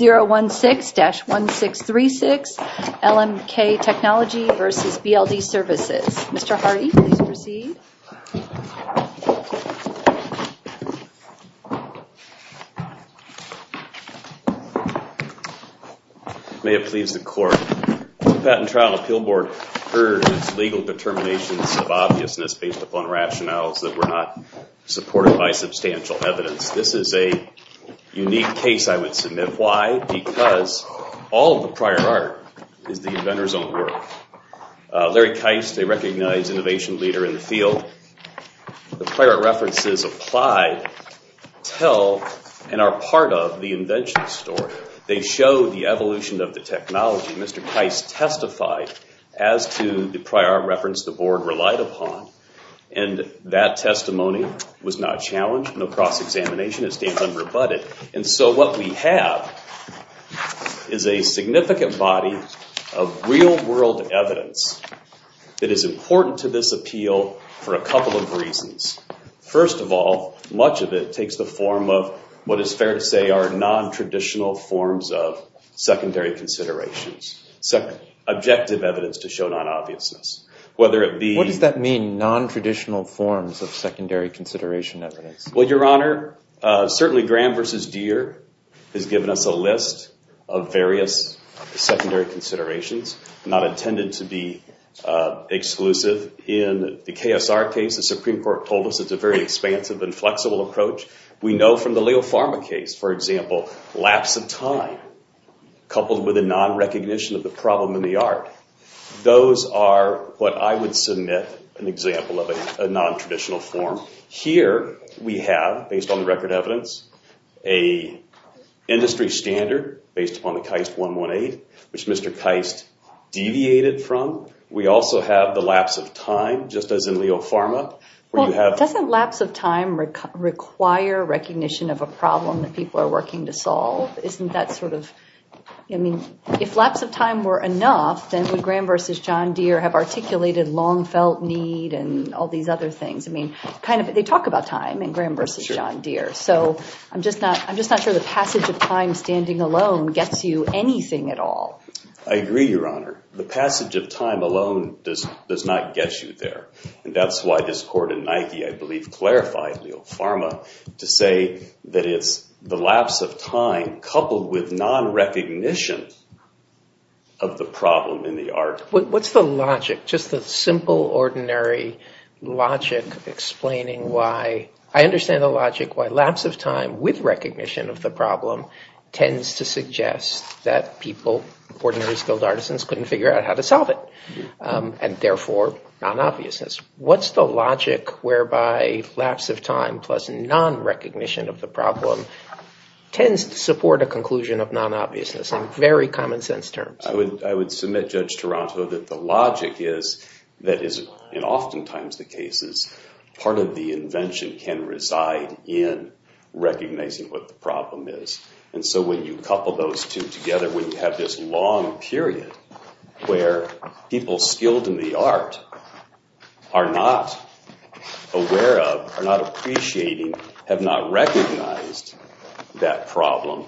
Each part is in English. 016-1636 LMK Technology versus BLD Services. Mr. Hardy, please proceed. May it please the court. The Patent and Trial Appeal Board urges legal determinations of obviousness based upon rationales that were not unique case I would submit. Why? Because all of the prior art is the inventor's own work. Larry Keist, a recognized innovation leader in the field, the prior references apply, tell, and are part of the invention story. They show the evolution of the technology. Mr. Keist testified as to the prior reference the board relied upon and that testimony was not challenged, no cross-examination, it stands unrebutted. And so what we have is a significant body of real-world evidence that is important to this appeal for a couple of reasons. First of all, much of it takes the form of what is fair to say are non-traditional forms of secondary considerations, objective evidence to show non-obviousness. What does that mean, non-traditional forms of secondary consideration evidence? Well, Your Honor, certainly Graham versus Deere has given us a list of various secondary considerations, not intended to be exclusive. In the KSR case, the Supreme Court told us it's a very expansive and flexible approach. We know from the Leo Pharma case, for example, lapse of time coupled with a non-recognition of the problem in the art. Those are what I would submit an example of a non-traditional form. Here we have, based on the record evidence, a industry standard based upon the Keist 118, which Mr. Keist deviated from. We also have the lapse of time, just as in Leo Pharma. Well, doesn't lapse of time require recognition of a problem that people are working to solve? Isn't that sort of, I mean, if lapse of time were enough, then would Graham versus John Deere have articulated long felt need and all these other things? I mean, they talk about time in Graham versus John Deere. So I'm just not sure the passage of time standing alone gets you anything at all. I agree, Your Honor. The passage of time alone does not get you there. And that's why this clarifies Leo Pharma to say that it's the lapse of time coupled with non-recognition of the problem in the art. What's the logic, just the simple, ordinary logic explaining why, I understand the logic, why lapse of time with recognition of the problem tends to suggest that people, ordinary skilled artisans, couldn't figure out how to solve it and, therefore, non-obviousness. What's the logic whereby lapse of time plus non-recognition of the problem tends to support a conclusion of non-obviousness in very common sense terms? I would submit, Judge Taranto, that the logic is that is, in oftentimes the cases, part of the invention can reside in recognizing what the problem is. And so when you couple those together, when you have this long period where people skilled in the art are not aware of, are not appreciating, have not recognized that problem,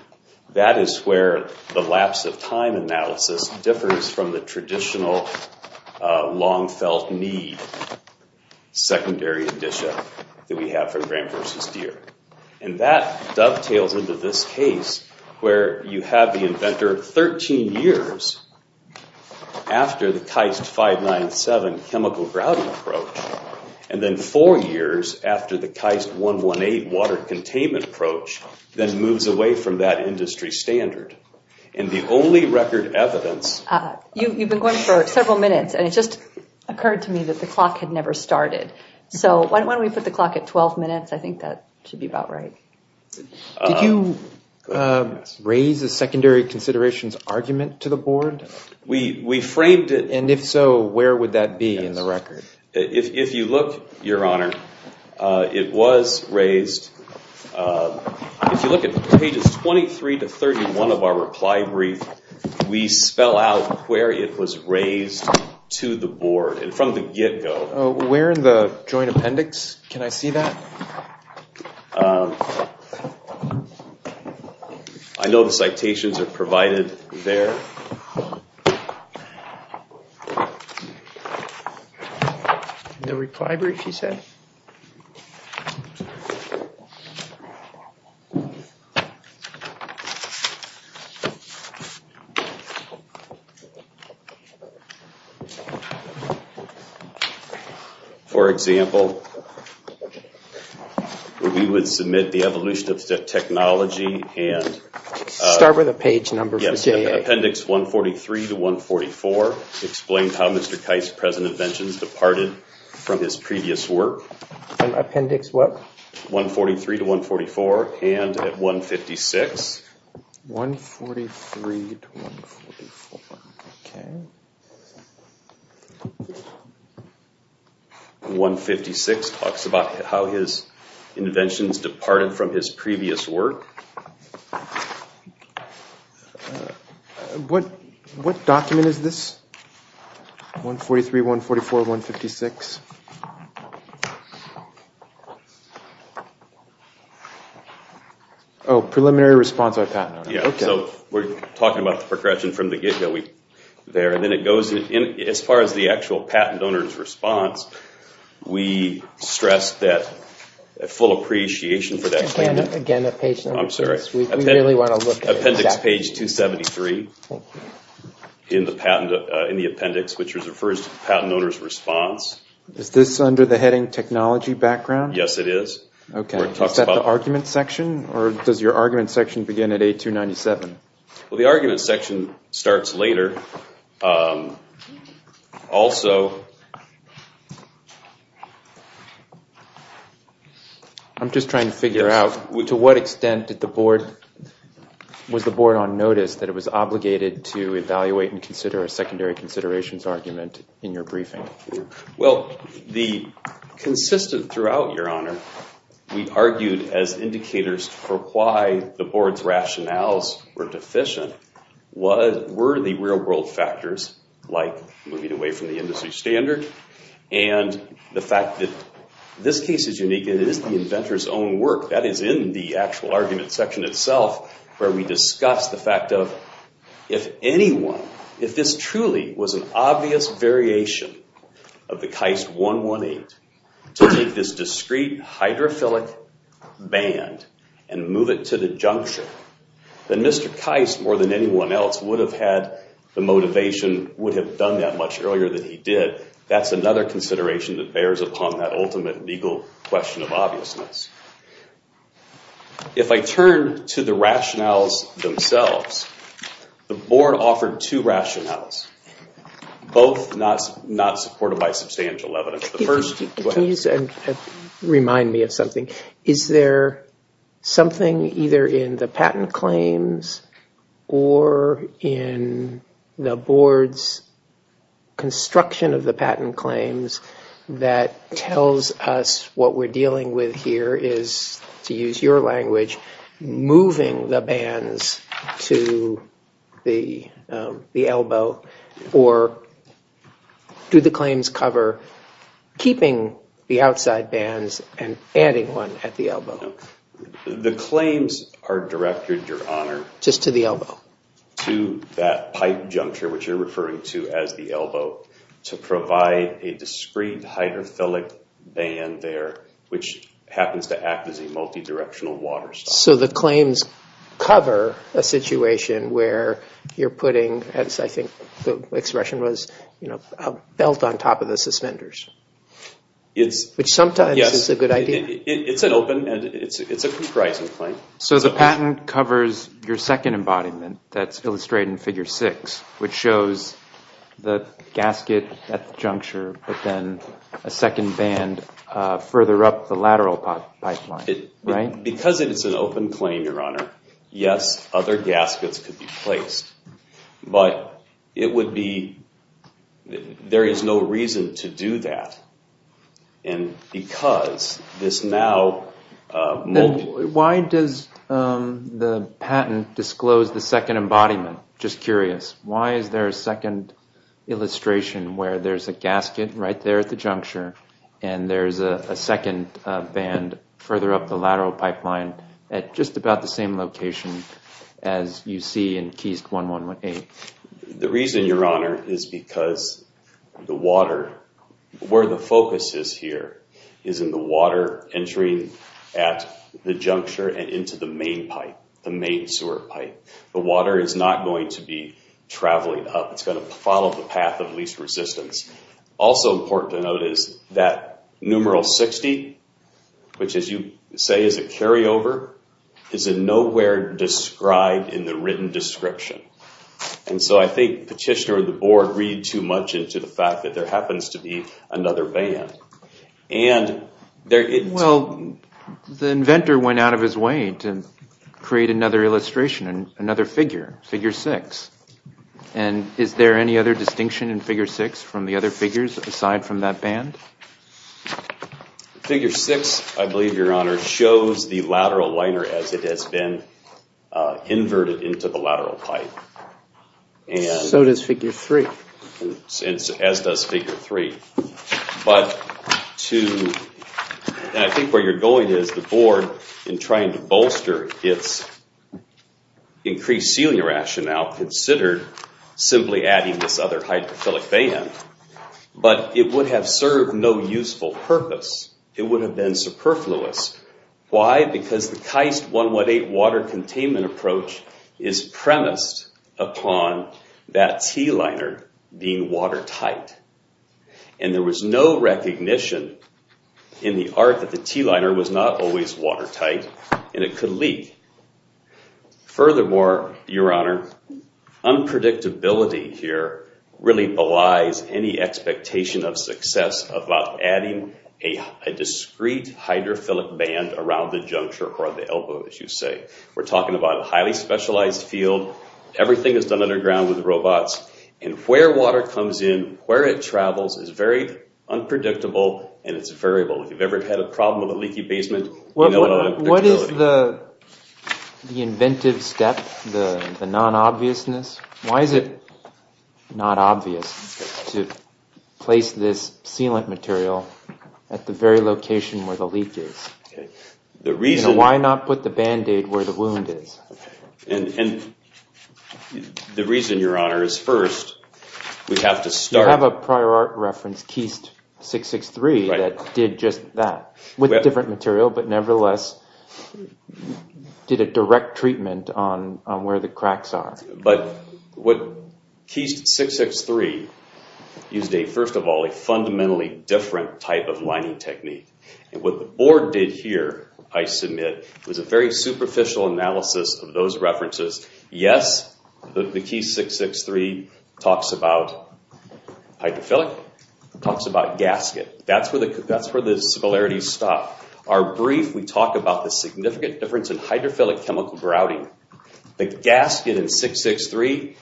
that is where the lapse of time analysis differs from the traditional long-felt need secondary edition that we have from Graham versus Deere. And that dovetails into this case where you have the inventor 13 years after the Keist 597 chemical grouting approach, and then four years after the Keist 118 water containment approach, then moves away from that industry standard. And the only record evidence... You've been going for several minutes and it just occurred to me that the clock had never started. So why don't we put the clock at 12 minutes? I think that should be about right. Did you raise a secondary considerations argument to the board? We framed it... And if so, where would that be in the record? If you look, Your Honor, it was raised... If you look at pages 23 to 31 of our reply brief, we spell out where it was raised to the board and from the get-go. Where in the joint appendix can I see that? I know the citations are provided there. For example, we would submit the evolution of the technology and... Start with a page number. Yes. Appendix 143 to 144 explains how Mr. Keist's present inventions departed from his previous work. Appendix what? 143 to 144 and at 156. 143 to 144. Okay. 156 talks about how his inventions departed from his previous work. What document is this? 143, 144, 156. Oh, preliminary response by a patent owner. Yeah. So we're talking about the progression from the get-go there. As far as the actual patent owner's response, we stress that full appreciation for that... Again, a page number. I'm sorry. Appendix page 273 in the appendix, which refers to the patent owner's response. Is this under the heading technology background? Yes, it is. Is that the argument section or does your argument section begin at A297? Well, the argument section starts later. Also... I'm just trying to figure out to what extent did the board... Was the board on notice that it was obligated to evaluate and consider a secondary considerations argument in your briefing? Well, the consistent throughout, Your Honor, we argued as indicators for why the board's rationales were deficient were the real-world factors, like moving away from the industry standard, and the fact that this case is unique. It is the inventor's own work. That is in the actual argument section itself where we discuss the fact of if anyone... If this truly was an obvious variation of the Keist 118 to make this discrete hydrophilic band and move it to the junction, then Mr. Keist, more than anyone else, would have had the motivation, would have done that much earlier than he did. That's another consideration that bears upon that ultimate legal question of obviousness. If I turn to the rationales themselves, the board offered two rationales, both not supported by substantial evidence. Please remind me of something. Is there something either in the patent claims or in the board's construction of the patent claims that tells us what we're dealing with here is, to use your language, moving the bands to the elbow, or do the claims cover keeping the outside bands and adding one at the elbow? The claims are directed, Your Honor... Just to the elbow. ...to that pipe juncture, which you're referring to as the elbow, to provide a discrete hydrophilic band there, which happens to act as a multi-directional water stop. So the claims cover a situation where you're putting, as I think the expression was, a belt on top of the suspenders, which sometimes is a good idea. It's an open and it's a comprising claim. So the patent covers your second embodiment that's illustrated in Figure 6, which shows the gasket at the juncture, but then a second band further up the lateral pipeline, right? Because it is an open claim, Your Honor, yes, other gaskets could be placed. But it would be... There is no reason to do that. And because this now... Why does the patent disclose the second embodiment? Just curious. Why is there a second illustration where there's a gasket right there at the juncture and there's a second band further up the lateral pipeline at just about the same location as you see in Keys 1118? The reason, Your Honor, is because the water, where the focus is here, is in the water entering at the juncture and into the main pipe, the main sewer pipe. The water is not going to be traveling up. It's going to follow the path of least resistance. Also important to note is that numeral 60, which, as you say, is a carryover, is nowhere described in the written description. And so I think Petitioner and the Board read too much into the fact that there happens to be another band. And there isn't... Well, the inventor went out of his way to create another illustration, another figure, Figure 6. And is there any other distinction in Figure 6 from the other figures aside from that band? Figure 6, I believe, Your Honor, shows the lateral liner as it has been inverted into the lateral pipe. So does Figure 3. As does Figure 3. I think where you're going is the Board, in trying to bolster its increased sealing rationale, considered simply adding this other hydrophilic band, but it would have served no useful purpose. It would have been superfluous. Why? Because the KAIST 118 water containment approach is premised upon that T-liner being watertight. And there was no recognition in the art that the T-liner was not always watertight, and it could leak. Furthermore, Your Honor, unpredictability here really belies any expectation of success about adding a discrete hydrophilic band around the juncture or the elbow, as you say. We're talking about a highly specialized field. Everything is done underground with robots. And where water comes in, where it travels, is very unpredictable, and it's variable. If you've ever had a problem with a leaky basement, you know about unpredictability. What is the inventive step, the non-obviousness? Why is it not obvious to place this sealant material at the very location where the leak is? Why not put the Band-Aid where the wound is? And the reason, Your Honor, is first, we have to start... You have a prior art reference, KAIST 663, that did just that, with different material, but nevertheless did a direct treatment on where the cracks are. But what KAIST 663 used, first of all, a fundamentally different type of lining technique. And what the Board did here, I submit, was a very superficial analysis of those references. Yes, the KAIST 663 talks about hydrophilic, talks about gasket. That's where the similarities stop. Our brief, we talk about the significant difference in hydrophilic chemical grouting. The gasket in 663,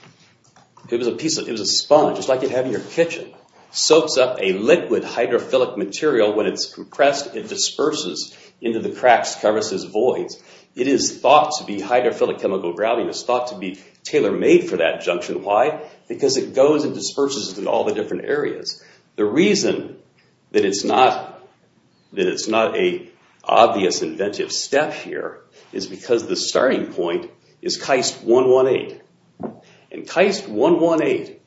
it was a piece of... It was a sponge, just like you'd have in your kitchen. Soaks up a liquid hydrophilic material. When it's compressed, it disperses into the cracks, crevices, voids. It is thought to be... Hydrophilic chemical grouting is thought to be tailor-made for that junction. Why? Because it goes and disperses in all the different areas. The reason that it's not a obvious inventive step here is because the starting point is KAIST 118. And KAIST 118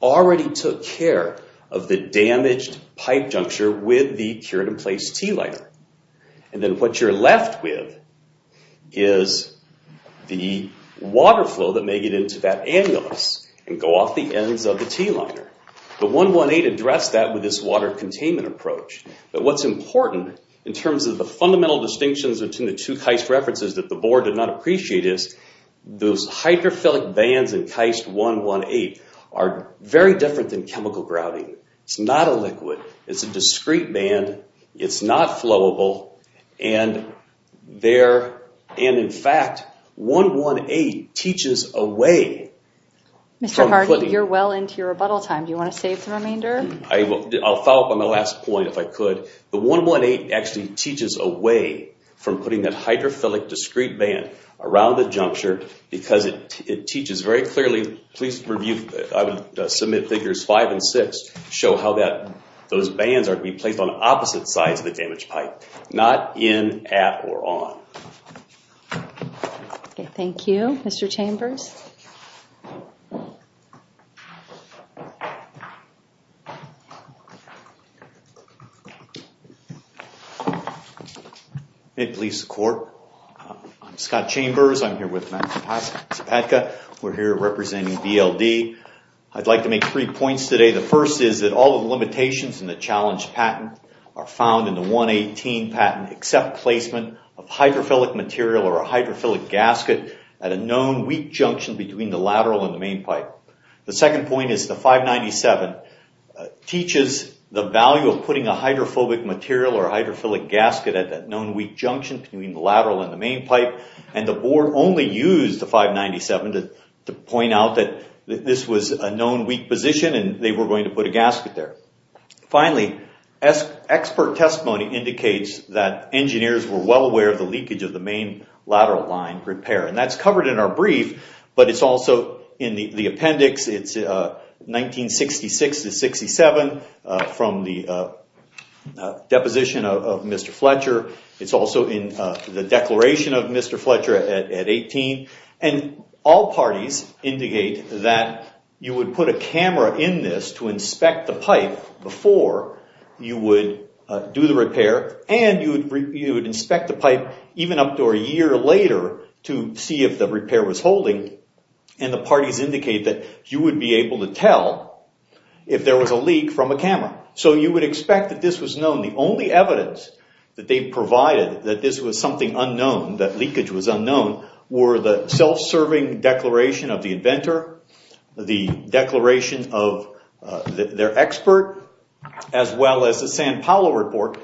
already took care of the damaged pipe juncture with the cured-in-place T liner. And then what you're left with is the water flow that may get into that annulus and go off the ends of the T liner. But 118 addressed that with this water containment approach. But what's important in terms of the fundamental distinctions between the two KAIST references that the board did not appreciate is those hydrophilic bands in KAIST 118 are very different than chemical grouting. It's not a liquid. It's a discrete band. It's not flowable. And in fact, 118 teaches a way... Mr. Hardy, you're well into your rebuttal time. Do you want to save the remainder? I'll follow up on the last point if I could. The 118 actually teaches a way from putting that hydrophilic discrete band around the juncture because it teaches very clearly... Please review... I would submit figures five and six show how those bands are to be placed on opposite sides of the damaged pipe, not in, at, or on. Okay, thank you, Mr. Chambers. I'm Scott Chambers. I'm here with Max Zapatka. We're here representing VLD. I'd like to make three points today. The first is that all of the limitations in the challenge patent are found in the 118 patent except placement of hydrophilic material or a hydrophilic gasket at a known weak junction between the lateral and the main pipe. The second point is the 597 teaches the value of putting a hydrophobic material or a hydrophilic gasket at that known weak junction between the lateral and the main pipe. And the board only used the 597 to point out that this was a known weak position and they were going to put a gasket there. Finally, expert testimony indicates that engineers were well aware of the leakage of the main lateral line repair. And that's covered in our brief, but it's also in the appendix. It's 1966 to 67 from the deposition of Mr. Fletcher. It's also in the declaration of Mr. Fletcher at 18. And all parties indicate that you would put a camera in this to inspect the pipe before you would do the repair and you would inspect the pipe even up to a year later to see if the repair was holding. And the parties indicate that you would be able to tell if there was a leak from a camera. So you would expect that this was known. The only evidence that they provided that this was something unknown, that leakage was unknown, were the self-serving declaration of the inventor, the declaration of their expert, as well as the San Paolo report.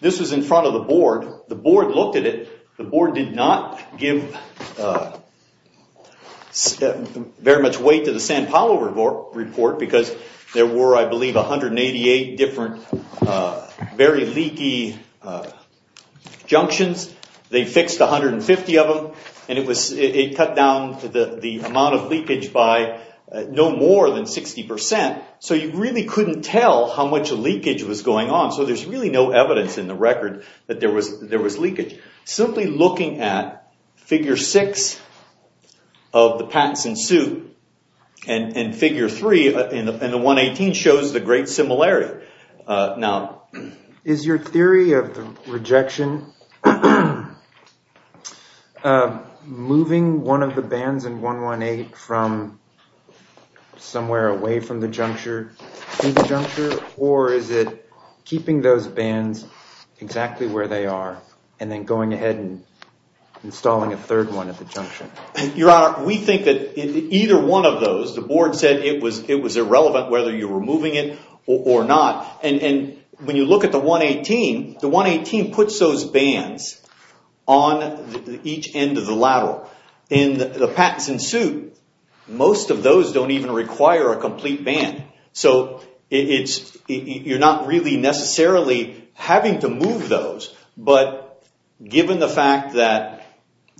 This was in front of the board. The board looked at it. The board did not give very much weight to the San Paolo report because there were, I believe, 188 different very leaky junctions. They fixed 150 of them. And it cut down the amount of leakage by no more than 60%. So you really couldn't tell how much leakage was going on. So there's really no evidence in the record that there was leakage. Simply looking at figure six of the patents in suit and figure three in the 118 shows the great similarity. Now, is your theory of the rejection moving one of the bands in 118 from somewhere away from the juncture, through the juncture, or is it keeping those bands exactly where they are and then going ahead and installing a third one at the junction? Your Honor, we think that either one of those, the board said it was irrelevant whether you were moving it or not. And when you look at the 118, the 118 puts those bands on each end of the lateral. In the patents in suit, most of those don't even require a complete band. So you're not really necessarily having to move those. But given the fact that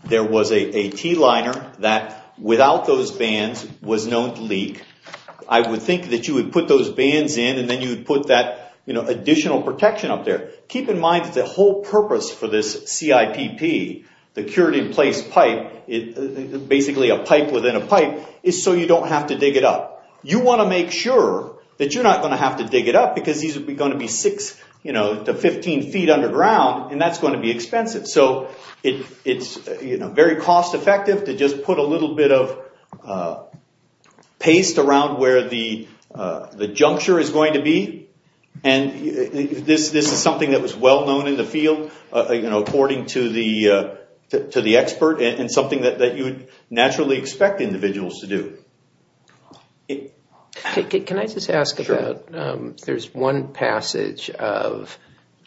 there was a T-liner that without those bands was known to leak, I would think that you would put those bands in and then you would put that additional protection up there. Keep in mind that the whole purpose for this CIPP, the cured in place pipe, basically a pipe within a pipe, is so you don't have to dig it up. You want to make sure that you're not going to have to dig it up because these are going to be six to 15 feet underground and that's going to be expensive. So it's very cost effective to just put a little bit of paste around where the juncture is going to be. And this is something that was well known in the field according to the expert and something that you would naturally expect individuals to do. Okay, can I just ask about there's one passage of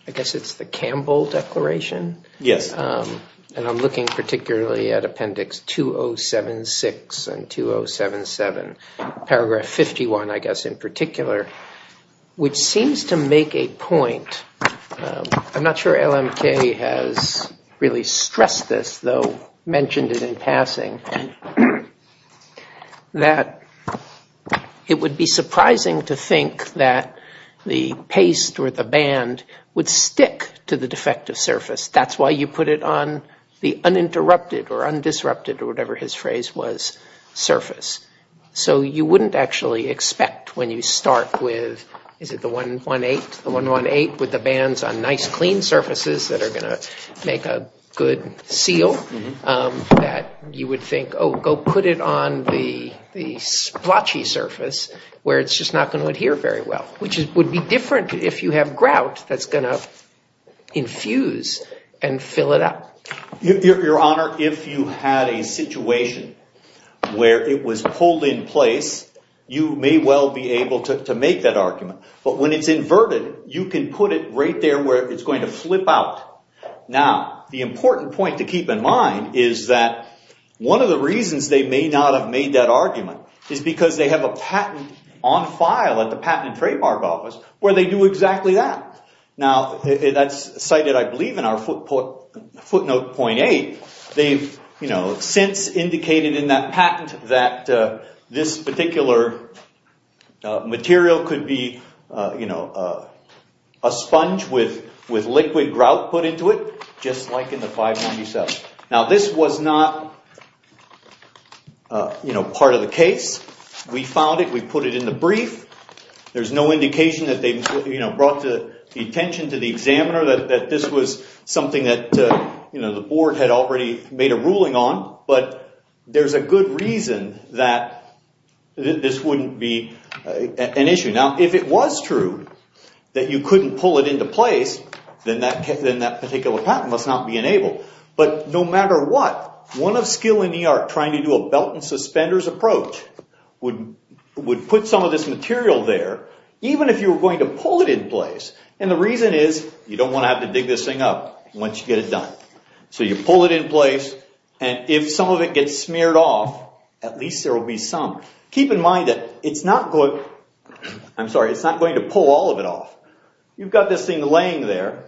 I guess it's the Campbell Declaration? Yes. And I'm looking particularly at Appendix 2076 and 2077, paragraph 51 I guess in particular, which seems to make a point. I'm not sure LMK has really stressed this though, mentioned it in passing. And that it would be surprising to think that the paste or the band would stick to the defective surface. That's why you put it on the uninterrupted or undisrupted or whatever his phrase was, surface. So you wouldn't actually expect when you start with, is it the 118? The 118 with the bands on nice clean surfaces that are going to make a good seal that you would think, oh, go put it on the splotchy surface where it's just not going to adhere very well, which would be different if you have grout that's going to infuse and fill it up. Your Honor, if you had a situation where it was pulled in place, you may well be able to make that argument. But when it's inverted, you can put it right there where it's going to flip out. Now, the important point to keep in mind is that one of the reasons they may not have made that argument is because they have a patent on file at the patent and trademark office where they do exactly that. Now, that's cited, I believe, in our footnote 0.8. They've since indicated in that patent that this particular material could be a sponge with liquid grout put into it, just like in the 597. Now, this was not part of the case. We found it. We put it in the brief. There's no indication that they brought the attention to the examiner, that this was something that the board had already made a ruling on. But there's a good reason that this wouldn't be an issue. Now, if it was true that you couldn't pull it into place, then that particular patent must not be enabled. But no matter what, one of skill in the art trying to do a belt and suspenders approach would put some of this material there even if you were going to pull it in place. And the reason is you don't want to have to dig this thing up once you get it done. So you pull it in place and if some of it gets smeared off, at least there will be some. Keep in mind that it's not going... I'm sorry. It's not going to pull all of it off. You've got this thing laying there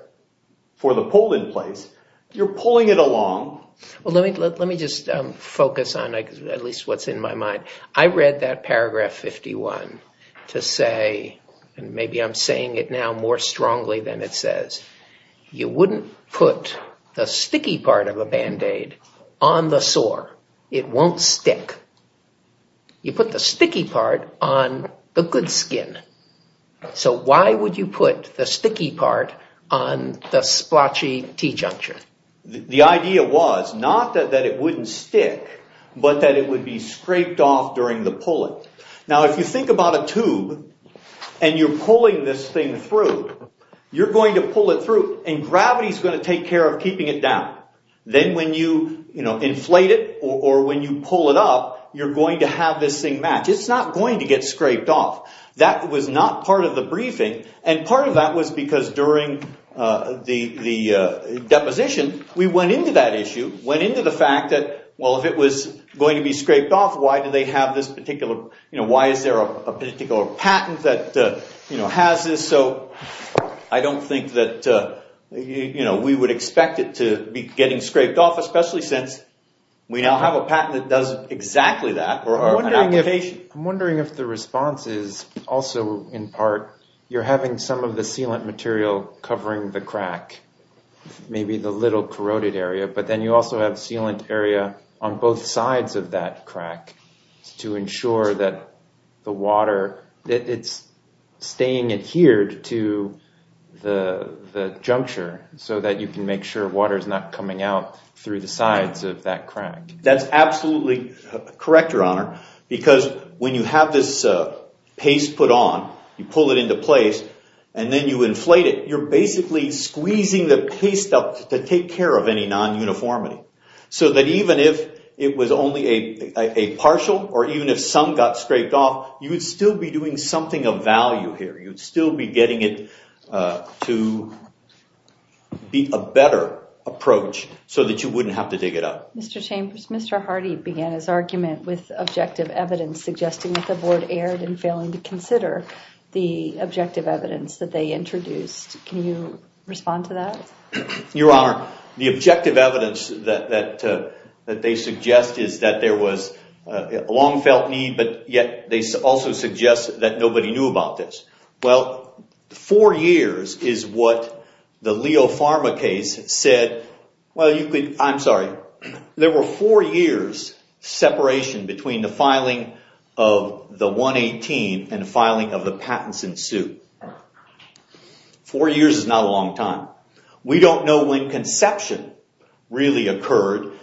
for the pull in place. You're pulling it along. Well, let me just focus on at least what's in my mind. I read that paragraph 51 to say, and maybe I'm saying it now more strongly than it says, you wouldn't put the sticky part of a Band-Aid on the sore. It won't stick. You put the sticky part on the good skin. So why would you put the sticky part on the splotchy T-junction? The idea was not that it wouldn't stick, but that it would be scraped off during the pull-in. Now, if you think about a tube and you're pulling this thing through, you're going to pull it through and gravity is going to take care of keeping it down. Then when you inflate it or when you pull it up, you're going to have this thing match. It's not going to get scraped off. That was not part of the briefing. Part of that was because during the deposition, we went into that issue, went into the fact that, well, if it was going to be scraped off, why is there a particular patent that has this? I don't think that we would expect it to be getting scraped off, especially since we now have a patent that does exactly that or an application. I'm wondering if the response is also, in part, you're having some of the sealant material covering the crack, maybe the little corroded area, but then you also have sealant area on both sides of that crack to ensure that the water, it's staying adhered to the juncture so that you can make sure through the sides of that crack. That's absolutely correct, Your Honor, because when you have this paste put on, you pull it into place and then you inflate it, you're basically squeezing the paste up to take care of any non-uniformity so that even if it was only a partial or even if some got scraped off, you would still be doing something of value here. You'd still be getting it to be a better approach so that you wouldn't have to dig it up. Mr. Chambers, Mr. Hardy began his argument with objective evidence suggesting that the board erred in failing to consider the objective evidence that they introduced. Can you respond to that? Your Honor, the objective evidence that they suggest is that there was a long-felt need, but yet they also suggest that nobody knew about this. Well, four years is what the Leo Pharma case said. I'm sorry. There were four years separation between the filing of the 118 and the filing of the patents in suit. Four years is not a long time. We don't know when conception really occurred.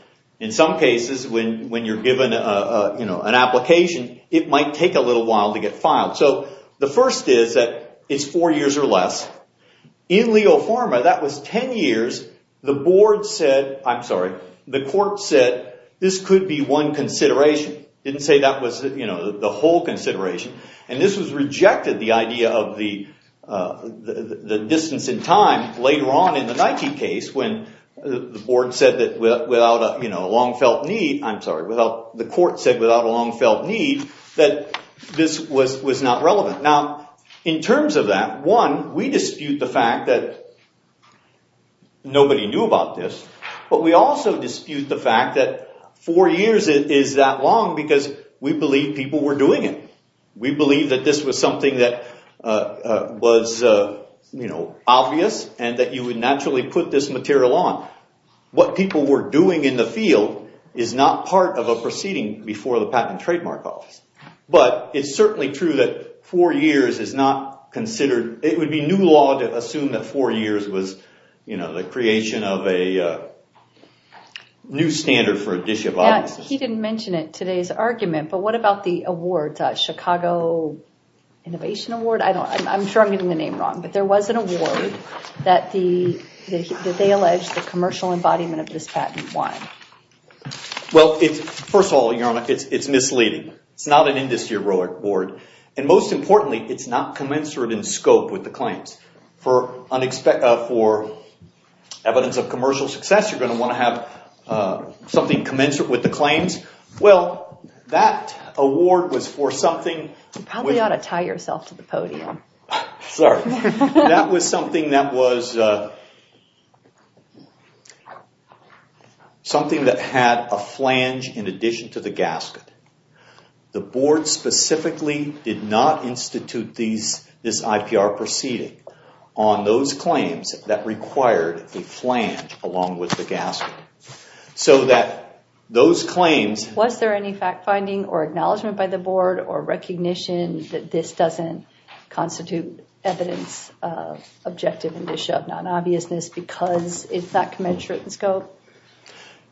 In some cases, when you're given an application, it might take a little while to get filed. So the first is that it's four years or less. In Leo Pharma, that was 10 years the board said, I'm sorry, the court said, this could be one consideration. Didn't say that was the whole consideration. And this was rejected, the idea of the distance in time later on in the Nike case when the board said that the court said without a long-felt need that this was not relevant. Now, in terms of that, one, we dispute the fact that nobody knew about this. But we also dispute the fact that four years is that long because we believe people were doing it. We believe that this was something that was obvious and that you would naturally put this material on. What people were doing in the field is not part of a proceeding before the Patent and Trademark Office. But it's certainly true that four years is not considered, it would be new law to assume that four years was the creation of a new standard for a dish of obviousness. Yeah, he didn't mention it today's argument, but what about the award, Chicago Innovation Award? I'm sure I'm getting the name wrong, but there was an award that they alleged the commercial embodiment of this patent won. Well, first of all, Your Honor, it's misleading. It's not an industry-heroic award. And most importantly, it's not commensurate in scope with the claims. For evidence of commercial success, you're going to want to have something commensurate with the claims. Well, that award was for something... You probably ought to tie yourself to the podium. Sorry. That was something that was something that had a flange in addition to the gasket. The board specifically did not institute this IPR proceeding. On those claims that required a flange along with the gasket. So that those claims... Was there any fact-finding or acknowledgement by the board or recognition that this doesn't constitute evidence of objective and dish of non-obviousness because it's not commensurate in scope?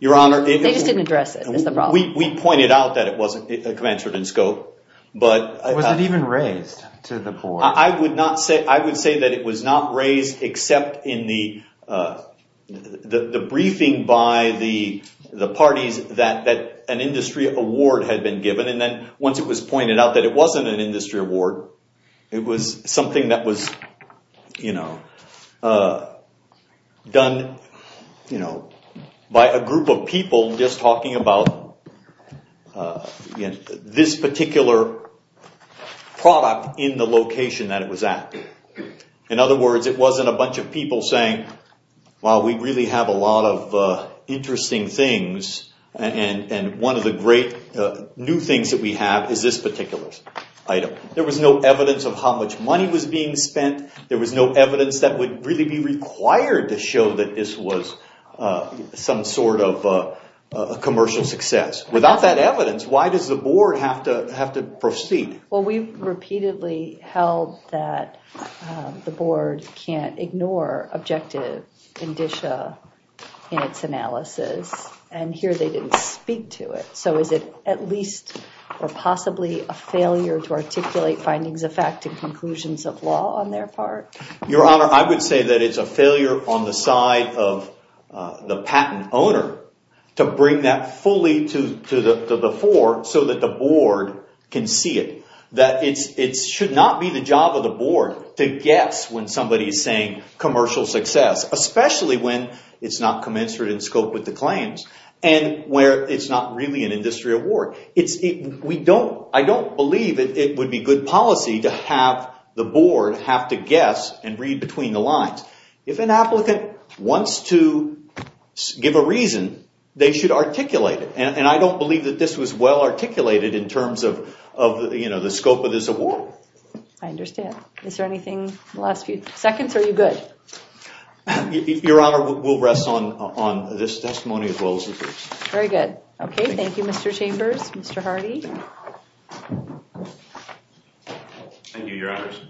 Your Honor... They just didn't address it as the problem. We pointed out that it wasn't commensurate in scope, but... Was it even raised to the board? I would not say... It was not raised except in the... The briefing by the parties that an industry award had been given. And then once it was pointed out that it wasn't an industry award, it was something that was... Done by a group of people just talking about this particular product in the location that it was at. In other words, it wasn't a bunch of people saying, well, we really have a lot of interesting things and one of the great new things that we have is this particular item. There was no evidence of how much money was being spent. There was no evidence that would really be required to show that this was some sort of commercial success. Without that evidence, why does the board have to proceed? Well, we've repeatedly held that the board can't ignore objective indicia in its analysis and here they didn't speak to it. So is it at least or possibly a failure to articulate findings of fact and conclusions of law on their part? Your Honor, I would say that it's a failure on the side of the patent owner to bring that fully to the fore so that the board can see it. That it should not be the job of the board to guess when somebody is saying commercial success, especially when it's not commensurate in scope with the claims and where it's not really an industry award. I don't believe it would be good policy to have the board have to guess and read between the lines. If an applicant wants to give a reason, they should articulate it. I don't believe that this was well articulated in terms of the scope of this award. I understand. Is there anything in the last few seconds? Are you good? Your Honor, we'll rest on this testimony as well as the briefs. Very good. Okay, thank you, Mr. Chambers. Mr. Hardy. Thank you, Your Honors.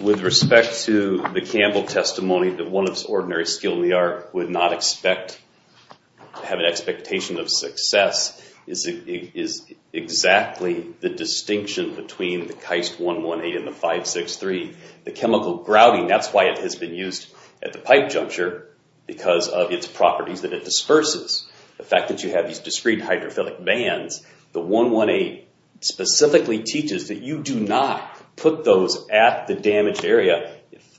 With respect to the Campbell testimony that one of the ordinary skilled in the art would not expect, have an expectation of success is exactly the distinction between the Keist 118 and the 563. The chemical grouting, that's why it has been used at the pipe juncture because of its properties that it disperses. The fact that you have these discrete hydrophilic bands, the 118 specifically teaches that you do not put those at the damaged area.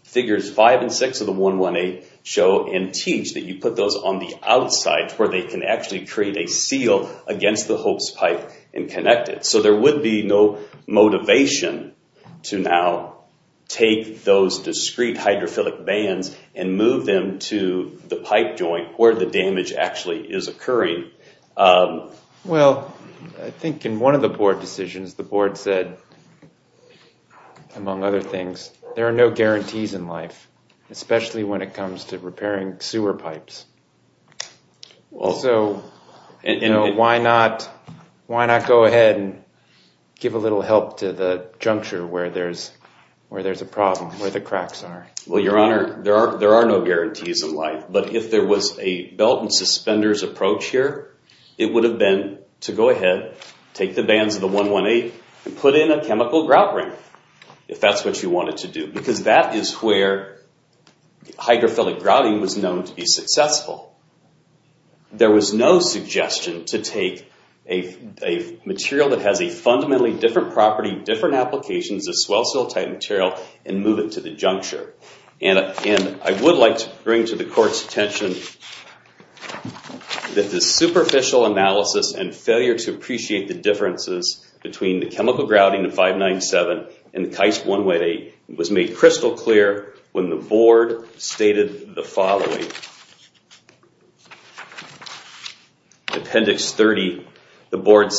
Figures five and six of the 118 show and teach that you put those on the outside where they can actually create a seal against the hopes pipe and connect it. So there would be no motivation to now take those discrete hydrophilic bands and move them to the pipe joint where the damage actually is occurring. Well, I think in one of the board decisions, the board said, among other things, there are no guarantees in life, especially when it comes to repairing sewer pipes. So why not go ahead and give a little help to the juncture where there's a problem, where the cracks are? Well, your honor, there are no guarantees in life, but if there was a belt and suspenders approach here, it would have been to go ahead, take the bands of the 118 and put in a chemical grout ring if that's what you wanted to do because that is where hydrophilic grouting was known to be successful. There was no suggestion to take a material that has a fundamentally different property, different applications, a swell seal type material and move it to the juncture. And I would like to bring to the court's attention that the superficial analysis and failure to appreciate the differences between the chemical grouting of 597 and the KAIST 118 was made crystal clear when the board stated the following. Appendix 30, the board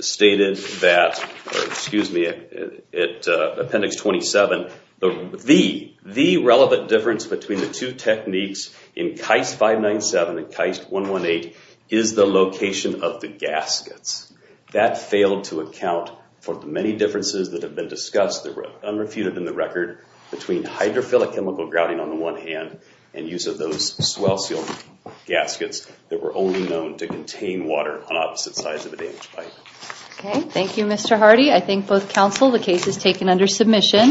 stated that, excuse me, appendix 27, the relevant difference between the two techniques in KAIST 597 and KAIST 118 is the location of the gaskets. That failed to account for the many differences that have been discussed, that were unrefuted in the record between hydrophilic chemical grouting on the one hand and use of those swell seal gaskets that were only known to contain water on opposite sides of the damage pipe. Okay, thank you, Mr. Hardy. I thank both counsel. The case is taken under submission.